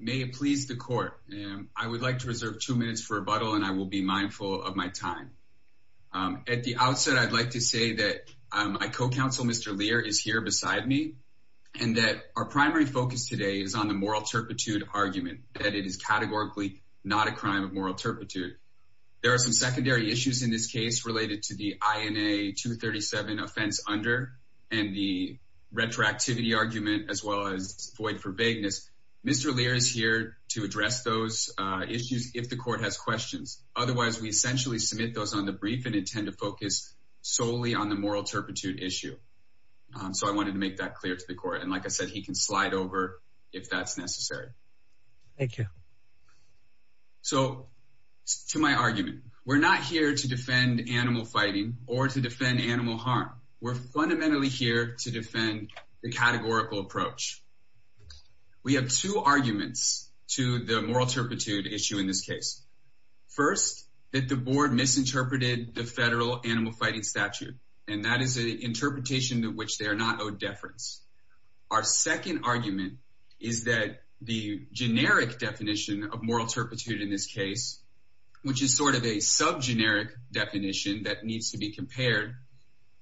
May it please the Court, I would like to reserve two minutes for rebuttal and I will be mindful of my time. At the outset I'd like to say that my co-counsel Mr. Lear is here beside me and that our primary focus today is on the moral turpitude argument, that it is categorically not a crime of moral turpitude. There are some secondary issues in this case related to the INA 237 offense under and the retroactivity argument as well as void for vagueness. Mr. Lear is here to address those issues if the Court has questions. Otherwise we essentially submit those on the brief and intend to focus solely on the moral turpitude issue. So I wanted to make that clear to the Court and like I said he can slide over if that's necessary. Thank you. So to my argument, we're not here to defend animal fighting or to defend animal harm. We're fundamentally here to defend the categorical approach. We have two arguments to the moral turpitude issue in this case. First that the board misinterpreted the federal animal fighting statute and that is an interpretation to which they are not owed deference. Our the generic definition of moral turpitude in this case, which is sort of a sub-generic definition that needs to be compared,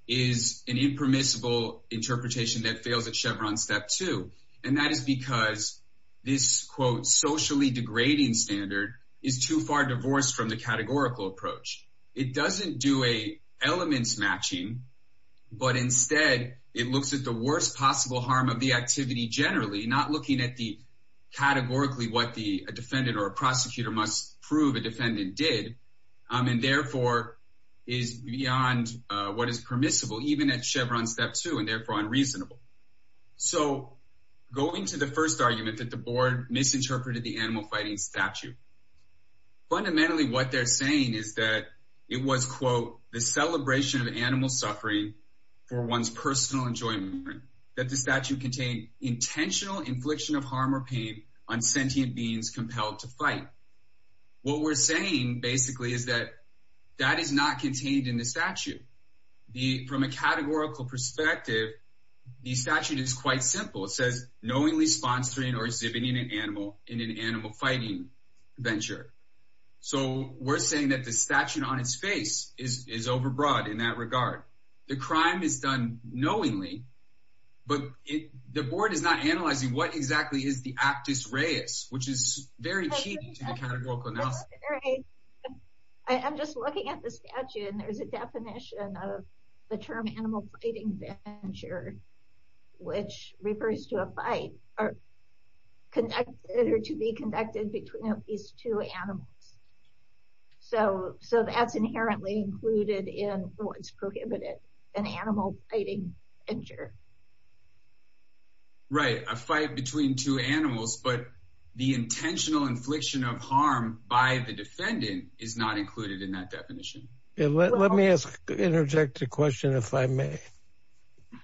is an impermissible interpretation that fails at Chevron Step 2 and that is because this quote socially degrading standard is too far divorced from the categorical approach. It doesn't do a elements matching but instead it looks at the worst possible harm of the activity generally not looking at the categorically what the defendant or a prosecutor must prove a defendant did and therefore is beyond what is permissible even at Chevron Step 2 and therefore unreasonable. So going to the first argument that the board misinterpreted the animal fighting statute. Fundamentally what they're saying is that it was quote the celebration of animal suffering for one's personal enjoyment. That the statute contained intentional infliction of harm or pain on sentient beings compelled to fight. What we're saying basically is that that is not contained in the statute. From a categorical perspective the statute is quite simple. It says knowingly sponsoring or exhibiting an animal in an animal fighting venture. So we're saying that the statute on its face is overbroad in that regard. The crime is done knowingly but the board is not analyzing what exactly is the actus reus which is very key to the categorical analysis. I'm just looking at the statute and there's a definition of the term animal fighting venture which refers to a fight or conducted or to be conducted between these two animals. So that's inherently included in what's prohibited an animal fighting venture. Right a fight between two animals but the intentional infliction of harm by the defendant is not included in that definition. Let me ask interject a question if I may.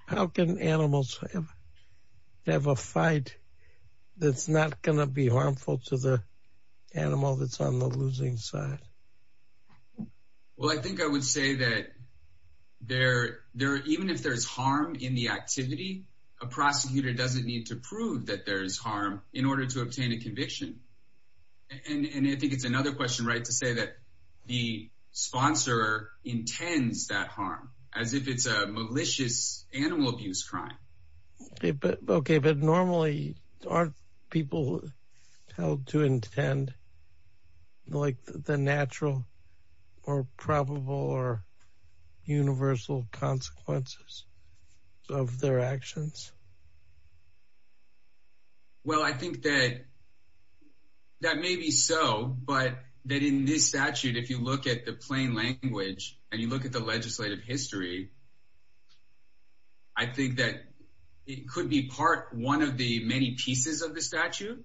How can animals have a fight that's not going to be harmful to the animal that's on the losing side? Well I think I would say that there there even if there's harm in the activity a prosecutor doesn't need to prove that there's harm in order to obtain a conviction. And I think it's another question right to say that the sponsor intends that harm as if it's a malicious animal abuse crime. Okay but normally aren't people held to intend like the natural or probable or universal consequences of their actions? Well I think that that may be so but that in this statute if you look at the plain language and you look at the legislative history I think that it could be part one of the many pieces of the statute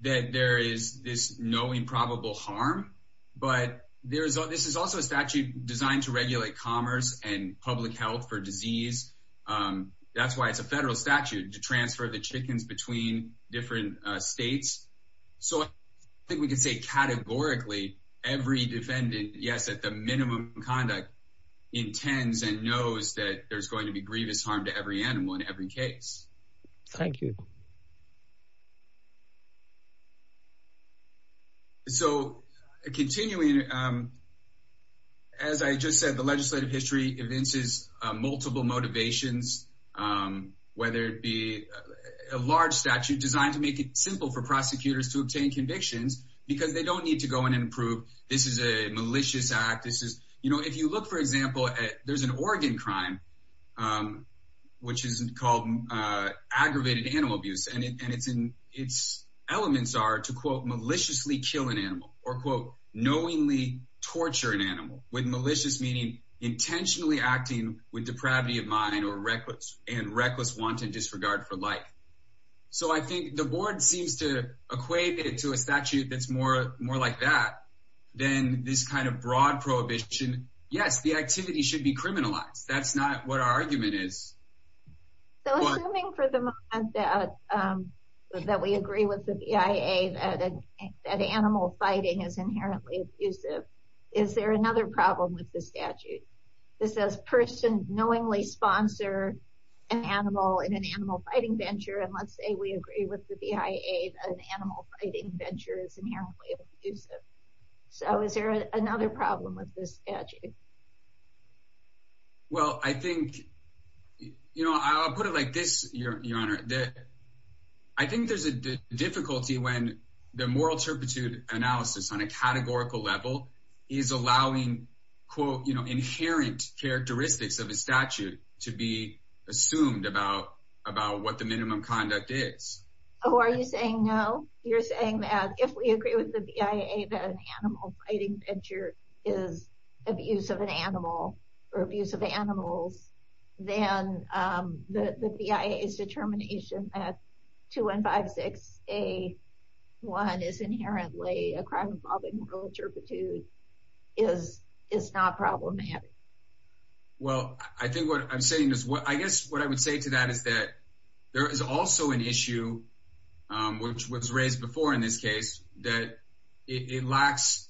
that there is this knowing probable harm but there is this is also a statute designed to regulate commerce and public health for disease. That's why it's a federal statute to transfer the chickens between different states. So that there's going to be grievous harm to every animal in every case. Thank you. So continuing as I just said the legislative history evinces multiple motivations whether it be a large statute designed to make it simple for prosecutors to obtain convictions because they don't need to go in and prove this is a malicious act. This is you know if you look for example there's an Oregon crime which isn't called aggravated animal abuse and it's in its elements are to quote maliciously kill an animal or quote knowingly torture an animal with malicious meaning intentionally acting with depravity of mind or reckless and reckless wanton disregard for life. So I think the board seems to equate it to a statute that's more more like that than this kind of broad prohibition. Yes the activity should be criminalized. That's not what our argument is. So assuming for the moment that we agree with the BIA that animal fighting is inherently abusive is there another problem with the statute. This says person knowingly sponsor an animal in an animal fighting venture and let's say we agree with the BIA that an animal fighting venture is inherently abusive. So is there another problem with this statute. Well I think you know I'll put it like this your honor that I think there's a difficulty when the moral turpitude analysis on a categorical level is allowing quote you know inherent characteristics of a statute to be assumed about about what the minimum conduct is. Oh are you saying no you're saying that if we agree with the BIA that an animal fighting venture is abuse of an animal or abuse of animals then the BIA's determination at 2156 a 1 is inherently a crime involving moral turpitude is is not problematic. Well I think what I'm saying is what I guess what I would say to that is that there is also an issue which was raised before in this case that it lacks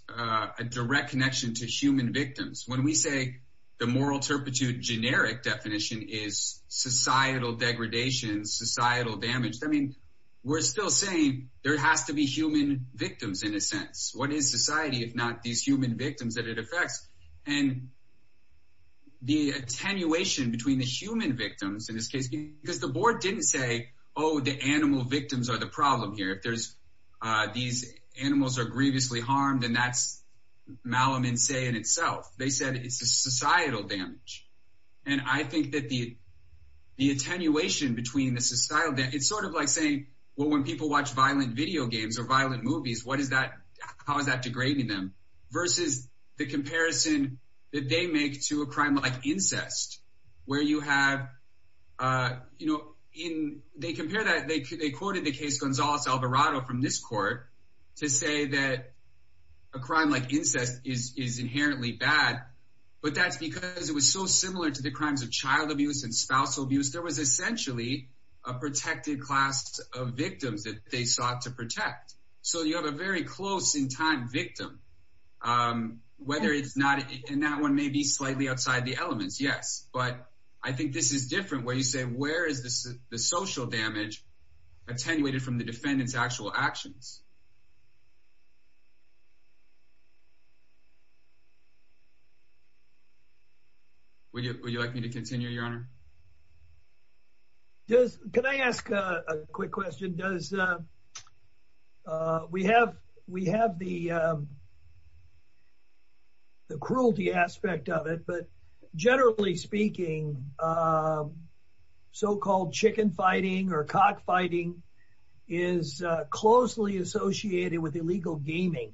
a direct connection to human victims. When we say the moral turpitude generic definition is societal degradation societal damage. I mean we're still saying there has to be human victims in a sense. What is society if not these human victims that it affects and the attenuation between the human victims in this case because the board didn't say oh the animal victims are the problem here if there's these animals are grievously harmed and that's Malamin say in itself they said it's a societal damage and I think that the the attenuation between the societal that it's sort of like saying well when people watch violent video games or violent movies what is that how is that degrading them versus the comparison that they make to a you know in they compare that they could they quoted the case Gonzalez Alvarado from this court to say that a crime like incest is is inherently bad but that's because it was so similar to the crimes of child abuse and spousal abuse there was essentially a protected class of victims that they sought to protect so you have a very close in time victim whether it's not and that one may be different where you say where is this the social damage attenuated from the defendants actual actions would you like me to continue your honor just can I ask a quick question does we have we so-called chicken fighting or cock fighting is closely associated with illegal gaming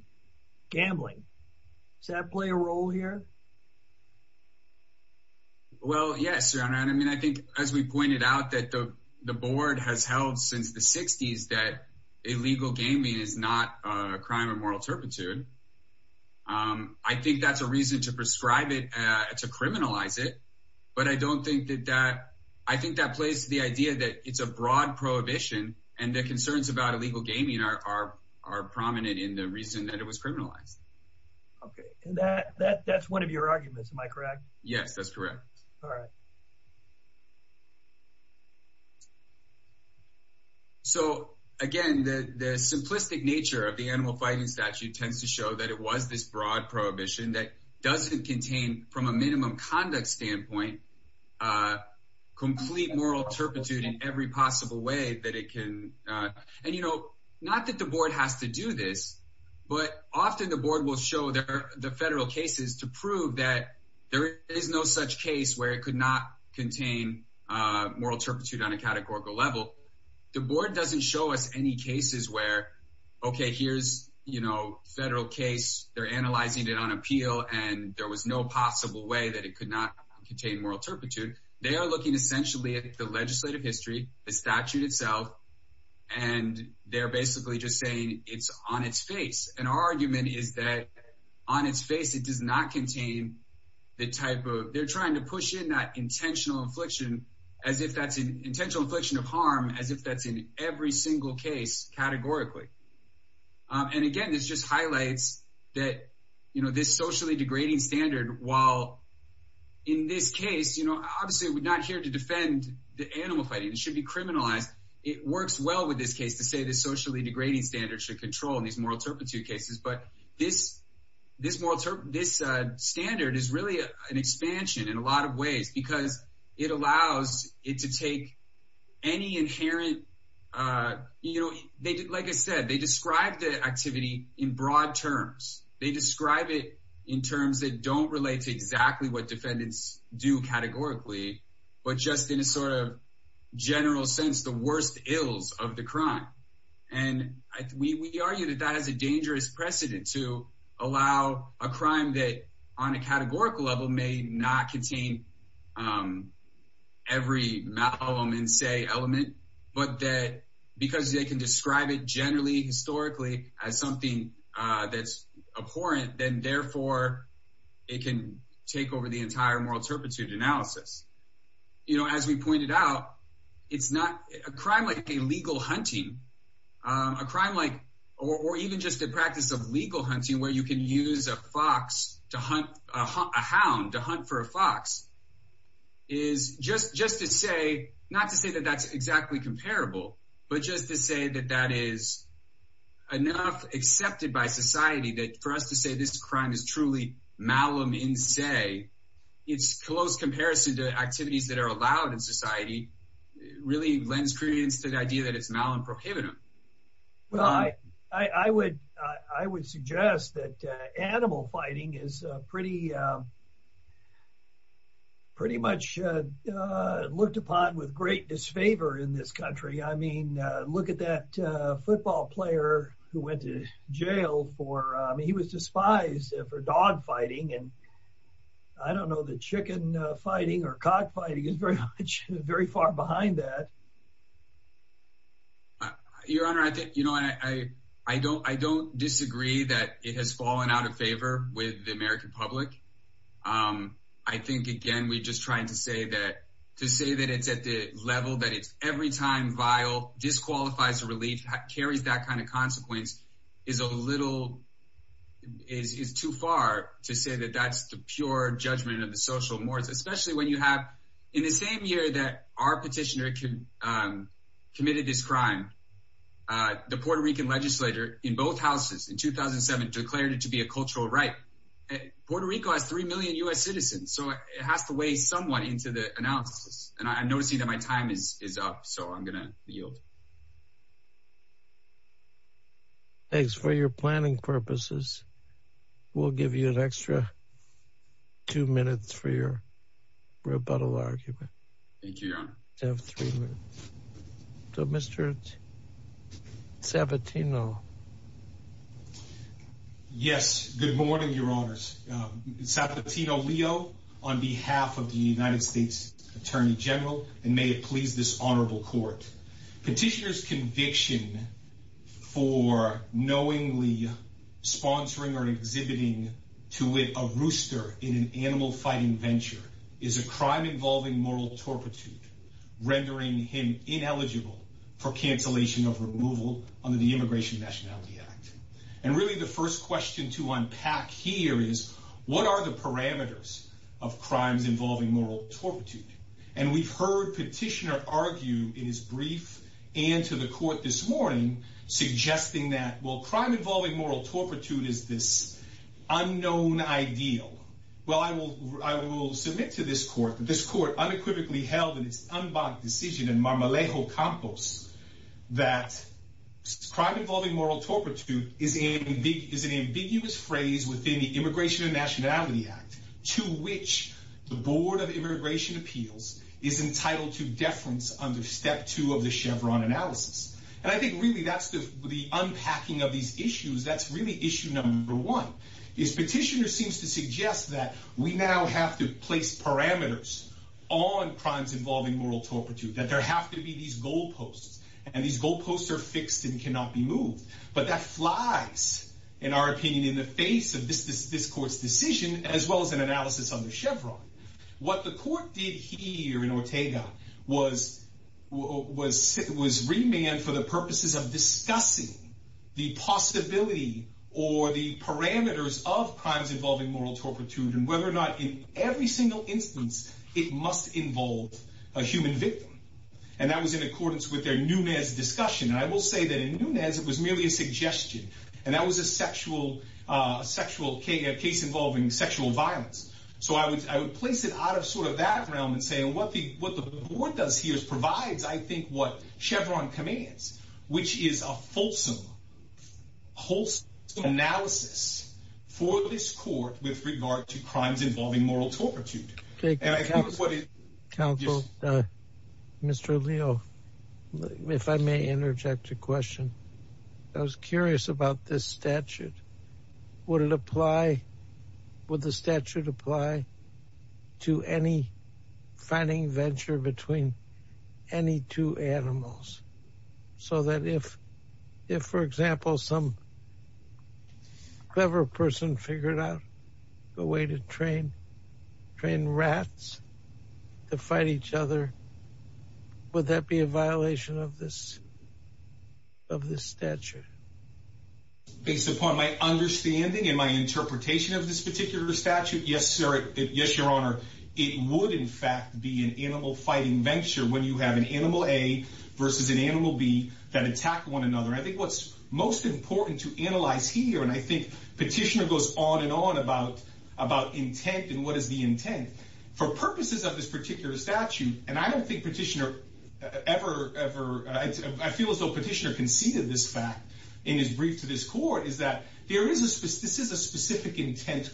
gambling does that play a role here well yes I mean I think as we pointed out that the board has held since the 60s that illegal gaming is not a crime of moral turpitude I think that's a reason to prescribe it to criminalize it but I don't think that that I think that plays the idea that it's a broad prohibition and the concerns about illegal gaming are are prominent in the reason that it was criminalized okay that that's one of your arguments am I correct yes that's correct all right so again the simplistic nature of the animal fighting statute tends to show that it was this broad prohibition that doesn't contain from a minimum conduct standpoint complete moral turpitude in every possible way that it can and you know not that the board has to do this but often the board will show their the federal cases to prove that there is no such case where it could not contain moral turpitude on a categorical level the board doesn't show us any cases where okay here's you know federal case they're analyzing it on appeal and there was no possible way that it could not contain moral turpitude they are looking essentially at the legislative history the statute itself and they're basically just saying it's on its face and our argument is that on its face it does not contain the type of they're trying to push in that intentional affliction as if that's an intentional affliction of harm as if that's in every single case categorically and again this just highlights that you know this socially degrading standard while in this case you know obviously we're not here to defend the animal fighting it should be criminalized it works well with this case to say this socially degrading standard should control these moral turpitude cases but this this moral this standard is really an expansion in a lot of ways because it allows it to take any inherent you know they did like I said they described the activity in broad terms they describe it in terms that don't relate to exactly what defendants do categorically but just in a sort of general sense the worst ills of the crime and we argue that that is a dangerous precedent to allow a crime that on a categorical level may not contain every element but that because they can describe it generally historically as something that's abhorrent then therefore it can take over the crime like a legal hunting a crime like or even just a practice of legal hunting where you can use a fox to hunt a hound to hunt for a fox is just just to say not to say that that's exactly comparable but just to say that that is enough accepted by society that for us to say this crime is truly malum in say it's close comparison to activities that are allowed in society really blends creates the idea that it's now in prohibitive well I I would I would suggest that animal fighting is pretty pretty much looked upon with great disfavor in this country I mean look at that football player who went to jail for he was despised for dog fighting and I don't know the your honor I think you know I I don't I don't disagree that it has fallen out of favor with the American public I think again we just trying to say that to say that it's at the level that it's every time vile disqualifies a relief carries that kind of consequence is a little is too far to say that that's the pure judgment of the social mores especially when you have in the same year that our petitioner committed this crime the Puerto Rican legislator in both houses in 2007 declared it to be a cultural right Puerto Rico has three million US citizens so it has to weigh somewhat into the analysis and I'm noticing that my time is up so I'm gonna yield thanks for your planning purposes we'll give you an extra two minutes for your rebuttal argument so mr. Sabatino yes good morning your honors Sabatino Leo on behalf of the United States Attorney General and may it please this honorable court petitioners conviction for knowingly sponsoring or exhibiting to it a rooster in an animal fighting venture is a crime involving moral torpitude rendering him ineligible for cancellation of removal under the Immigration Nationality Act and really the first question to unpack here is what are the parameters of crimes involving moral torpitude and we've heard petitioner argue in his brief and to the court this morning suggesting that well crime involving moral torpitude is this unknown ideal well I will I will submit to this court that this court unequivocally held in its unblocked decision in Marmolejo Campos that crime involving moral torpitude is a big is an ambiguous phrase within the Immigration and Nationality Act to which the deference under step two of the Chevron analysis and I think really that's the unpacking of these issues that's really issue number one is petitioner seems to suggest that we now have to place parameters on crimes involving moral torpitude that there have to be these goalposts and these goalposts are fixed and cannot be moved but that flies in our opinion in the face of this this analysis on the Chevron what the court did here in Ortega was was it was remand for the purposes of discussing the possibility or the parameters of crimes involving moral torpitude and whether or not in every single instance it must involve a human victim and that was in accordance with their Nunez discussion I will say that in Nunez it was merely a suggestion and that was a sexual sexual case involving sexual violence so I would place it out of sort of that realm and say what the what the board does here is provides I think what Chevron commands which is a fulsome wholesome analysis for this court with regard to crimes involving moral torpitude. Mr. Leo if I may interject a question I was curious about this statute would it apply would the statute apply to any finding venture between any two animals so that if if for example some clever person figured out a way to train train rats to fight each other would that be a violation of this of this statute? Based upon my understanding and my interpretation of this particular statute yes sir yes your honor it would in fact be an animal fighting venture when you have an animal A versus an animal B that attack one another I think what's most important to analyze here and I think petitioner goes on and on about about intent and what is the intent for purposes of this particular statute and I don't think petitioner ever ever I feel as though petitioner conceded this fact in his brief to this court is that there is this is a specific intent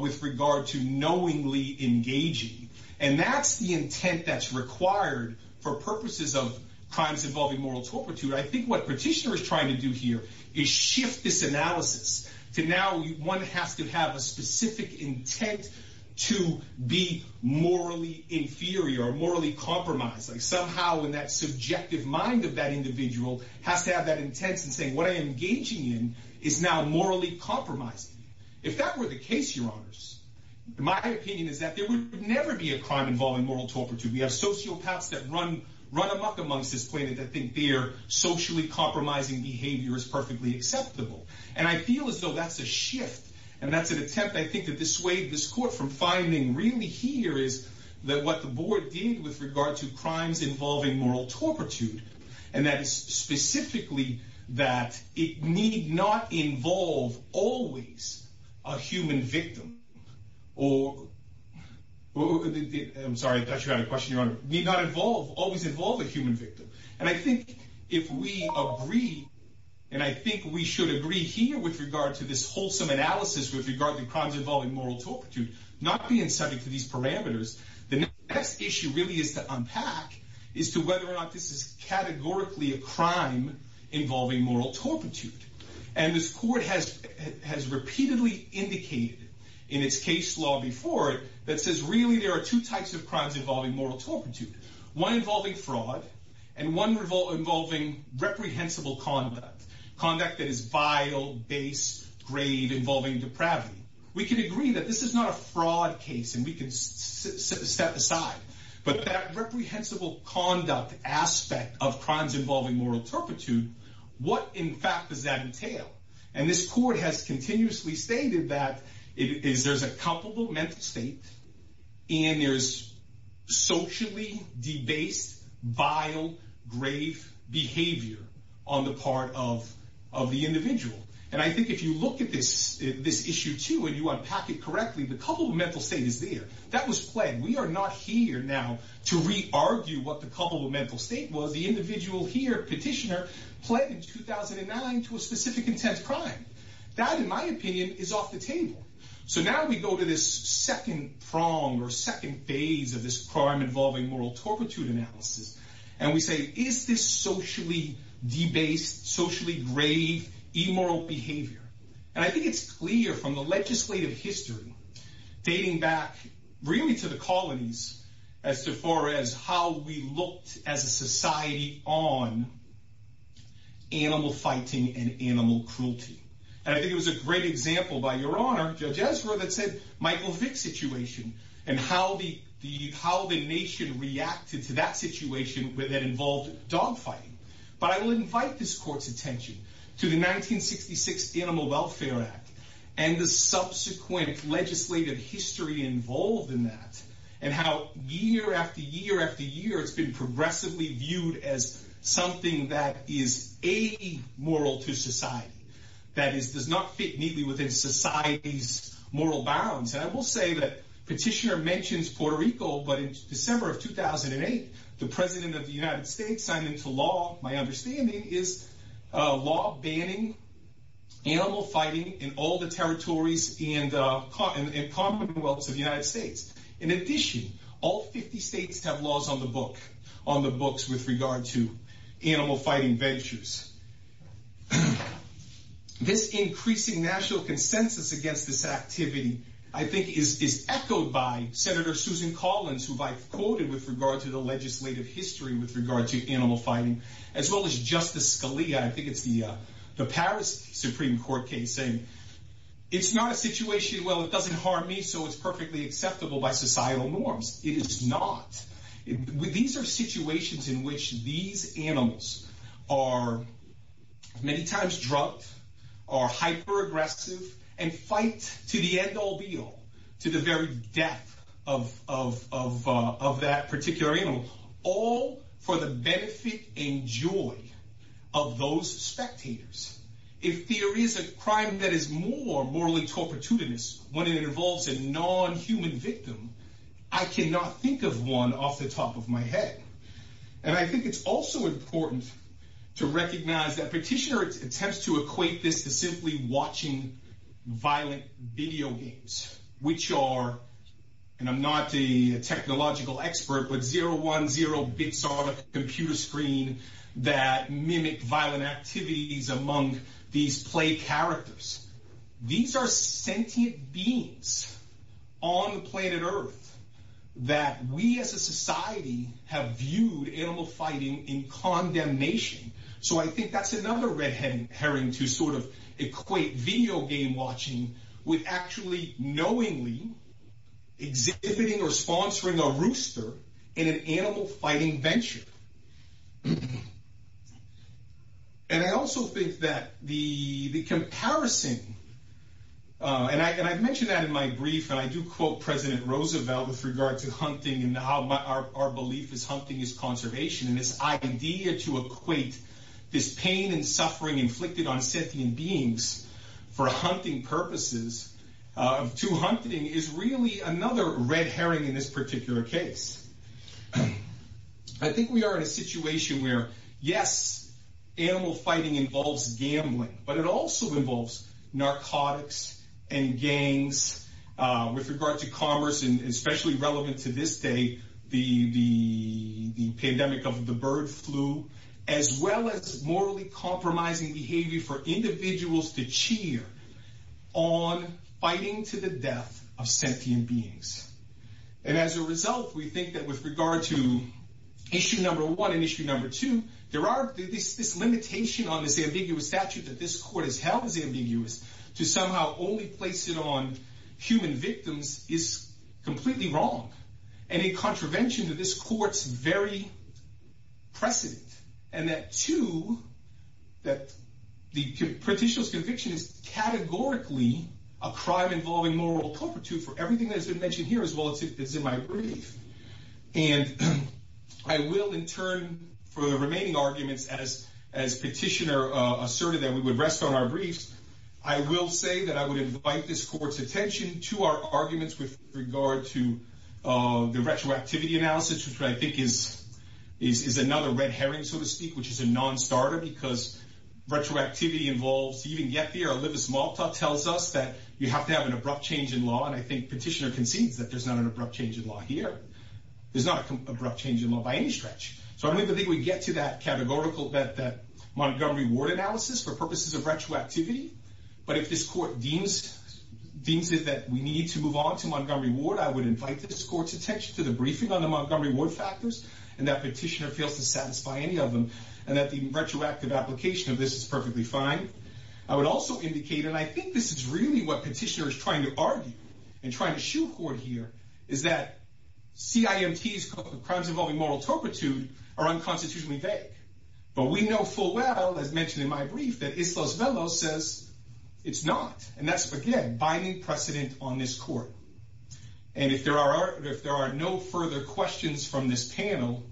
with regard to knowingly engaging and that's the intent that's required for purposes of crimes involving moral torpitude I think what petitioner is trying to do here is shift this analysis to now one has to have a specific intent to be morally inferior or morally compromised like somehow in that subjective mind of that individual has to have that intent and saying what I am engaging in is now morally compromised if that were the case your honors my opinion is that there would never be a crime involving moral torpitude we have sociopaths that run run amok amongst this planet that think they're socially compromising behavior is perfectly acceptable and I feel as though that's a shift and that's an attempt I think that this way this court from finding really here is that what the board did with regard to crimes involving moral torpitude and that is specifically that it need not involve always a human victim or I'm sorry I thought you had a question your honor need not involve always involve a human victim and I think if we agree and I think we should agree here with regard to this wholesome analysis with regard to crimes involving moral torpitude not being subject to these parameters the next issue really is to unpack is to whether or not this is categorically a crime involving moral torpitude and this court has has repeatedly indicated in its case law before it that says really there are two types of crimes involving moral torpitude one involving fraud and one revolving reprehensible conduct conduct that is vital base grade involving depravity we can agree that this is not a fraud case and we can set aside but that reprehensible conduct aspect of crimes involving moral torpitude what in fact does that entail and this court has continuously stated that it is there's a comparable mental state and there's socially debased vile grave behavior on the part of of the individual and I think if you look at this this issue too and you unpack it correctly the couple of mental state is that was played we are not here now to re-argue what the couple of mental state was the individual here petitioner pledged 2009 to a specific intent crime that in my opinion is off the table so now we go to this second prong or second phase of this crime involving moral torpitude analysis and we say is this socially debased socially grave immoral behavior and I think it's clear from the legislative history dating back really to the colonies as to far as how we looked as a society on animal fighting and animal cruelty and I think it was a great example by your honor judge Ezra that said Michael Vick situation and how the the how the nation reacted to that situation that involved dog fighting but I will invite this court's attention to the 1966 animal welfare act and the subsequent legislative history involved in that and how year after year after year it's been progressively viewed as something that is amoral to society that is does not fit neatly within society's moral bounds and I will say that petitioner mentions Puerto Rico but in December of 2008 the president of the United States signed into law my understanding is law banning animal fighting in all the territories and commonwealths of the United States in addition all 50 states have laws on the book on the books with regard to animal fighting ventures this increasing national consensus against this activity I think is echoed by senator Susan Collins who I've quoted with regard to the legislative history with regard to animal fighting as well as justice Scalia I think it's the uh the Paris supreme court case saying it's not a situation well it doesn't harm me so it's perfectly acceptable by societal norms it is not these are situations in which these animals are many times drugged are hyper aggressive and fight to the end all be all to the very death of of of uh of that particular animal all for the benefit and joy of those spectators if there is a crime that is more morally torportudinous when it involves a non-human victim I cannot think of one off the top of my head and I think it's also important to recognize that petitioner attempts to equate this to simply watching violent video games which are and I'm not a technological expert but zero one zero bits on a computer screen that mimic violent activities among these play characters these are sentient beings on planet earth that we as a society have viewed animal fighting in condemnation so I think that's another red herring to sort of equate video game watching with actually knowingly exhibiting or sponsoring a rooster in an animal fighting venture and I also think that the the comparison uh and I and I've mentioned that in my brief and I do quote president Roosevelt with regard to hunting and how my our belief is hunting is conservation and this idea to equate this pain and suffering inflicted on sentient beings for hunting purposes of to hunting is really another red herring in this particular case I think we are in a situation where yes animal fighting involves gambling but it also involves narcotics and gangs with regard to commerce and especially relevant to this day the the pandemic of the bird flu as well as morally compromising behavior for individuals to cheer on fighting to the death of sentient beings and as a result we think that with regard to issue number one and issue number two there are this this limitation on this ambiguous statute that this court has held is ambiguous to somehow only place it on human victims is completely wrong and in contravention to this court's very precedent and that too that the petitioner's conviction is categorically a crime involving moral culprity for everything that has been mentioned here as well as in my brief and I will in turn for the remaining arguments as as petitioner uh asserted that we would rest on our briefs I will say that I would invite this to uh the retroactivity analysis which I think is is another red herring so to speak which is a non-starter because retroactivity involves even get there olivis malta tells us that you have to have an abrupt change in law and I think petitioner concedes that there's not an abrupt change in law here there's not an abrupt change in law by any stretch so I don't think we get to that categorical bet that montgomery ward analysis for purposes of retroactivity but if this court deems deems it we need to move on to montgomery ward I would invite this court's attention to the briefing on the montgomery ward factors and that petitioner fails to satisfy any of them and that the retroactive application of this is perfectly fine I would also indicate and I think this is really what petitioner is trying to argue and trying to shoehorn here is that cimt's crimes involving moral turpitude are unconstitutionally vague but we know full well as mentioned in my brief that again binding precedent on this court and if there are if there are no further questions from this panel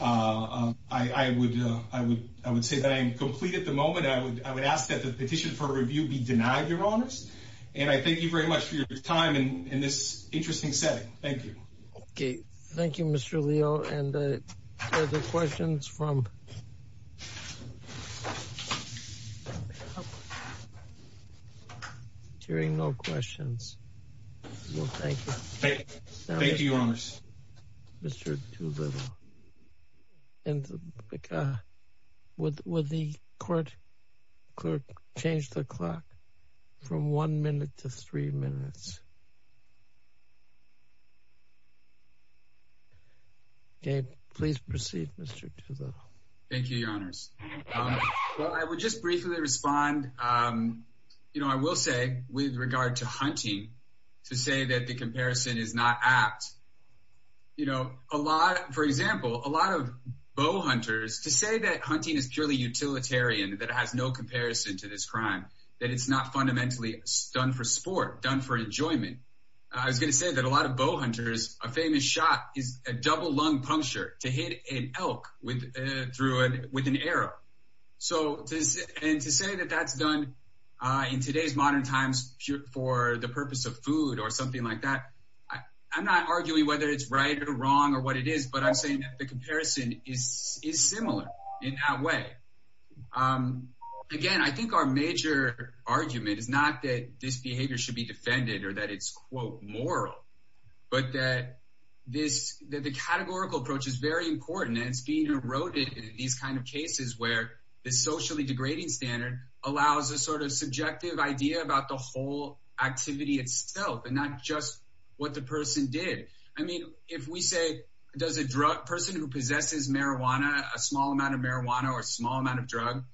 uh I would uh I would I would say that I am complete at the moment I would I would ask that the petition for review be denied your honors and I thank you very much for your time and in interesting setting thank you okay thank you mr leo and uh the questions from hearing no questions well thank you thank you your honors mr too little and uh with with the court clerk change the clock from one minute to three minutes um okay please proceed mr to the thank you your honors um well I would just briefly respond um you know I will say with regard to hunting to say that the comparison is not apt you know a lot for example a lot of bow hunters to say that hunting is purely utilitarian that has no comparison to this crime that it's not fundamentally done for sport done for enjoyment I was going to say that a lot of bow hunters a famous shot is a double lung puncture to hit an elk with through an with an arrow so and to say that that's done uh in today's modern times for the purpose of food or something like that I'm not arguing whether it's right or wrong or what it is but I'm saying that the comparison is is similar in that way um again I think our major argument is not that this behavior should be defended or that it's quote moral but that this that the categorical approach is very important and it's being eroded in these kind of cases where the socially degrading standard allows a sort of subjective idea about the whole activity itself and not just what the person did I mean if we say does a drug person who possesses marijuana a small amount of marijuana or a small amount of drug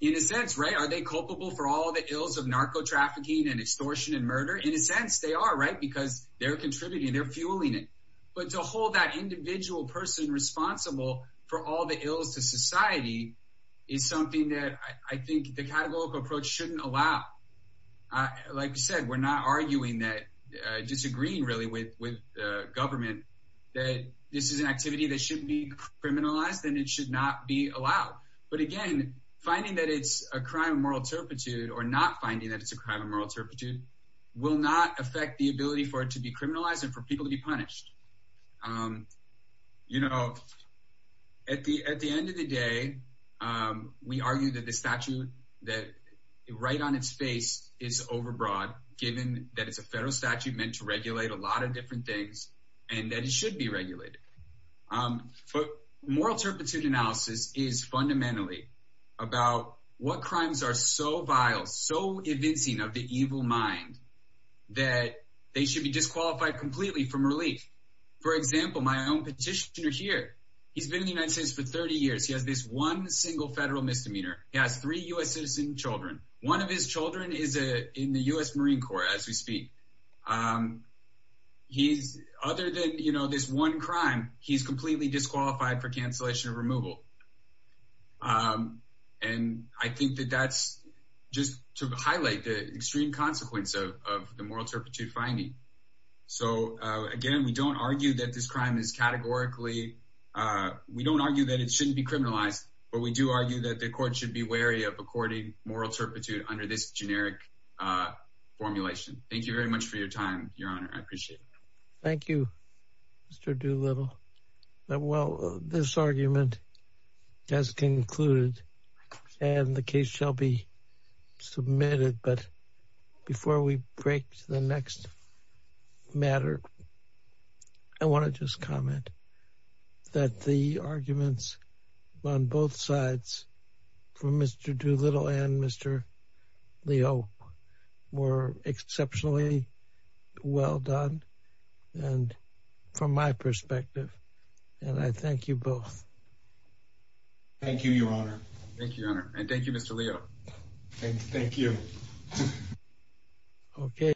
in a sense right are culpable for all the ills of narco trafficking and extortion and murder in a sense they are right because they're contributing they're fueling it but to hold that individual person responsible for all the ills to society is something that I think the categorical approach shouldn't allow like you said we're not arguing that uh disagreeing really with with government that this is an activity that should be criminalized and it should not be allowed but again finding that it's a crime of moral turpitude or not finding that it's a crime of moral turpitude will not affect the ability for it to be criminalized and for people to be punished um you know at the at the end of the day um we argue that the statute that right on its face is overbroad given that it's a federal statute meant to regulate a lot of different things and that it should be regulated um but moral turpitude analysis is fundamentally about what crimes are so vile so evincing of the evil mind that they should be disqualified completely from relief for example my own petitioner here he's been in the united states for 30 years he has this one single federal misdemeanor he has three u.s citizen children one of his children is a in other than you know this one crime he's completely disqualified for cancellation of removal um and i think that that's just to highlight the extreme consequence of the moral turpitude finding so uh again we don't argue that this crime is categorically uh we don't argue that it shouldn't be criminalized but we do argue that the court should be wary of according moral turpitude under this generic uh formulation thank you very much for your time your honor i Mr. Doolittle well this argument has concluded and the case shall be submitted but before we break to the next matter i want to just comment that the arguments on both sides from Mr. Doolittle and Mr. Leo were exceptionally well done and from my perspective and i thank you both thank you your honor thank you your honor and thank you Mr. Leo thank you okay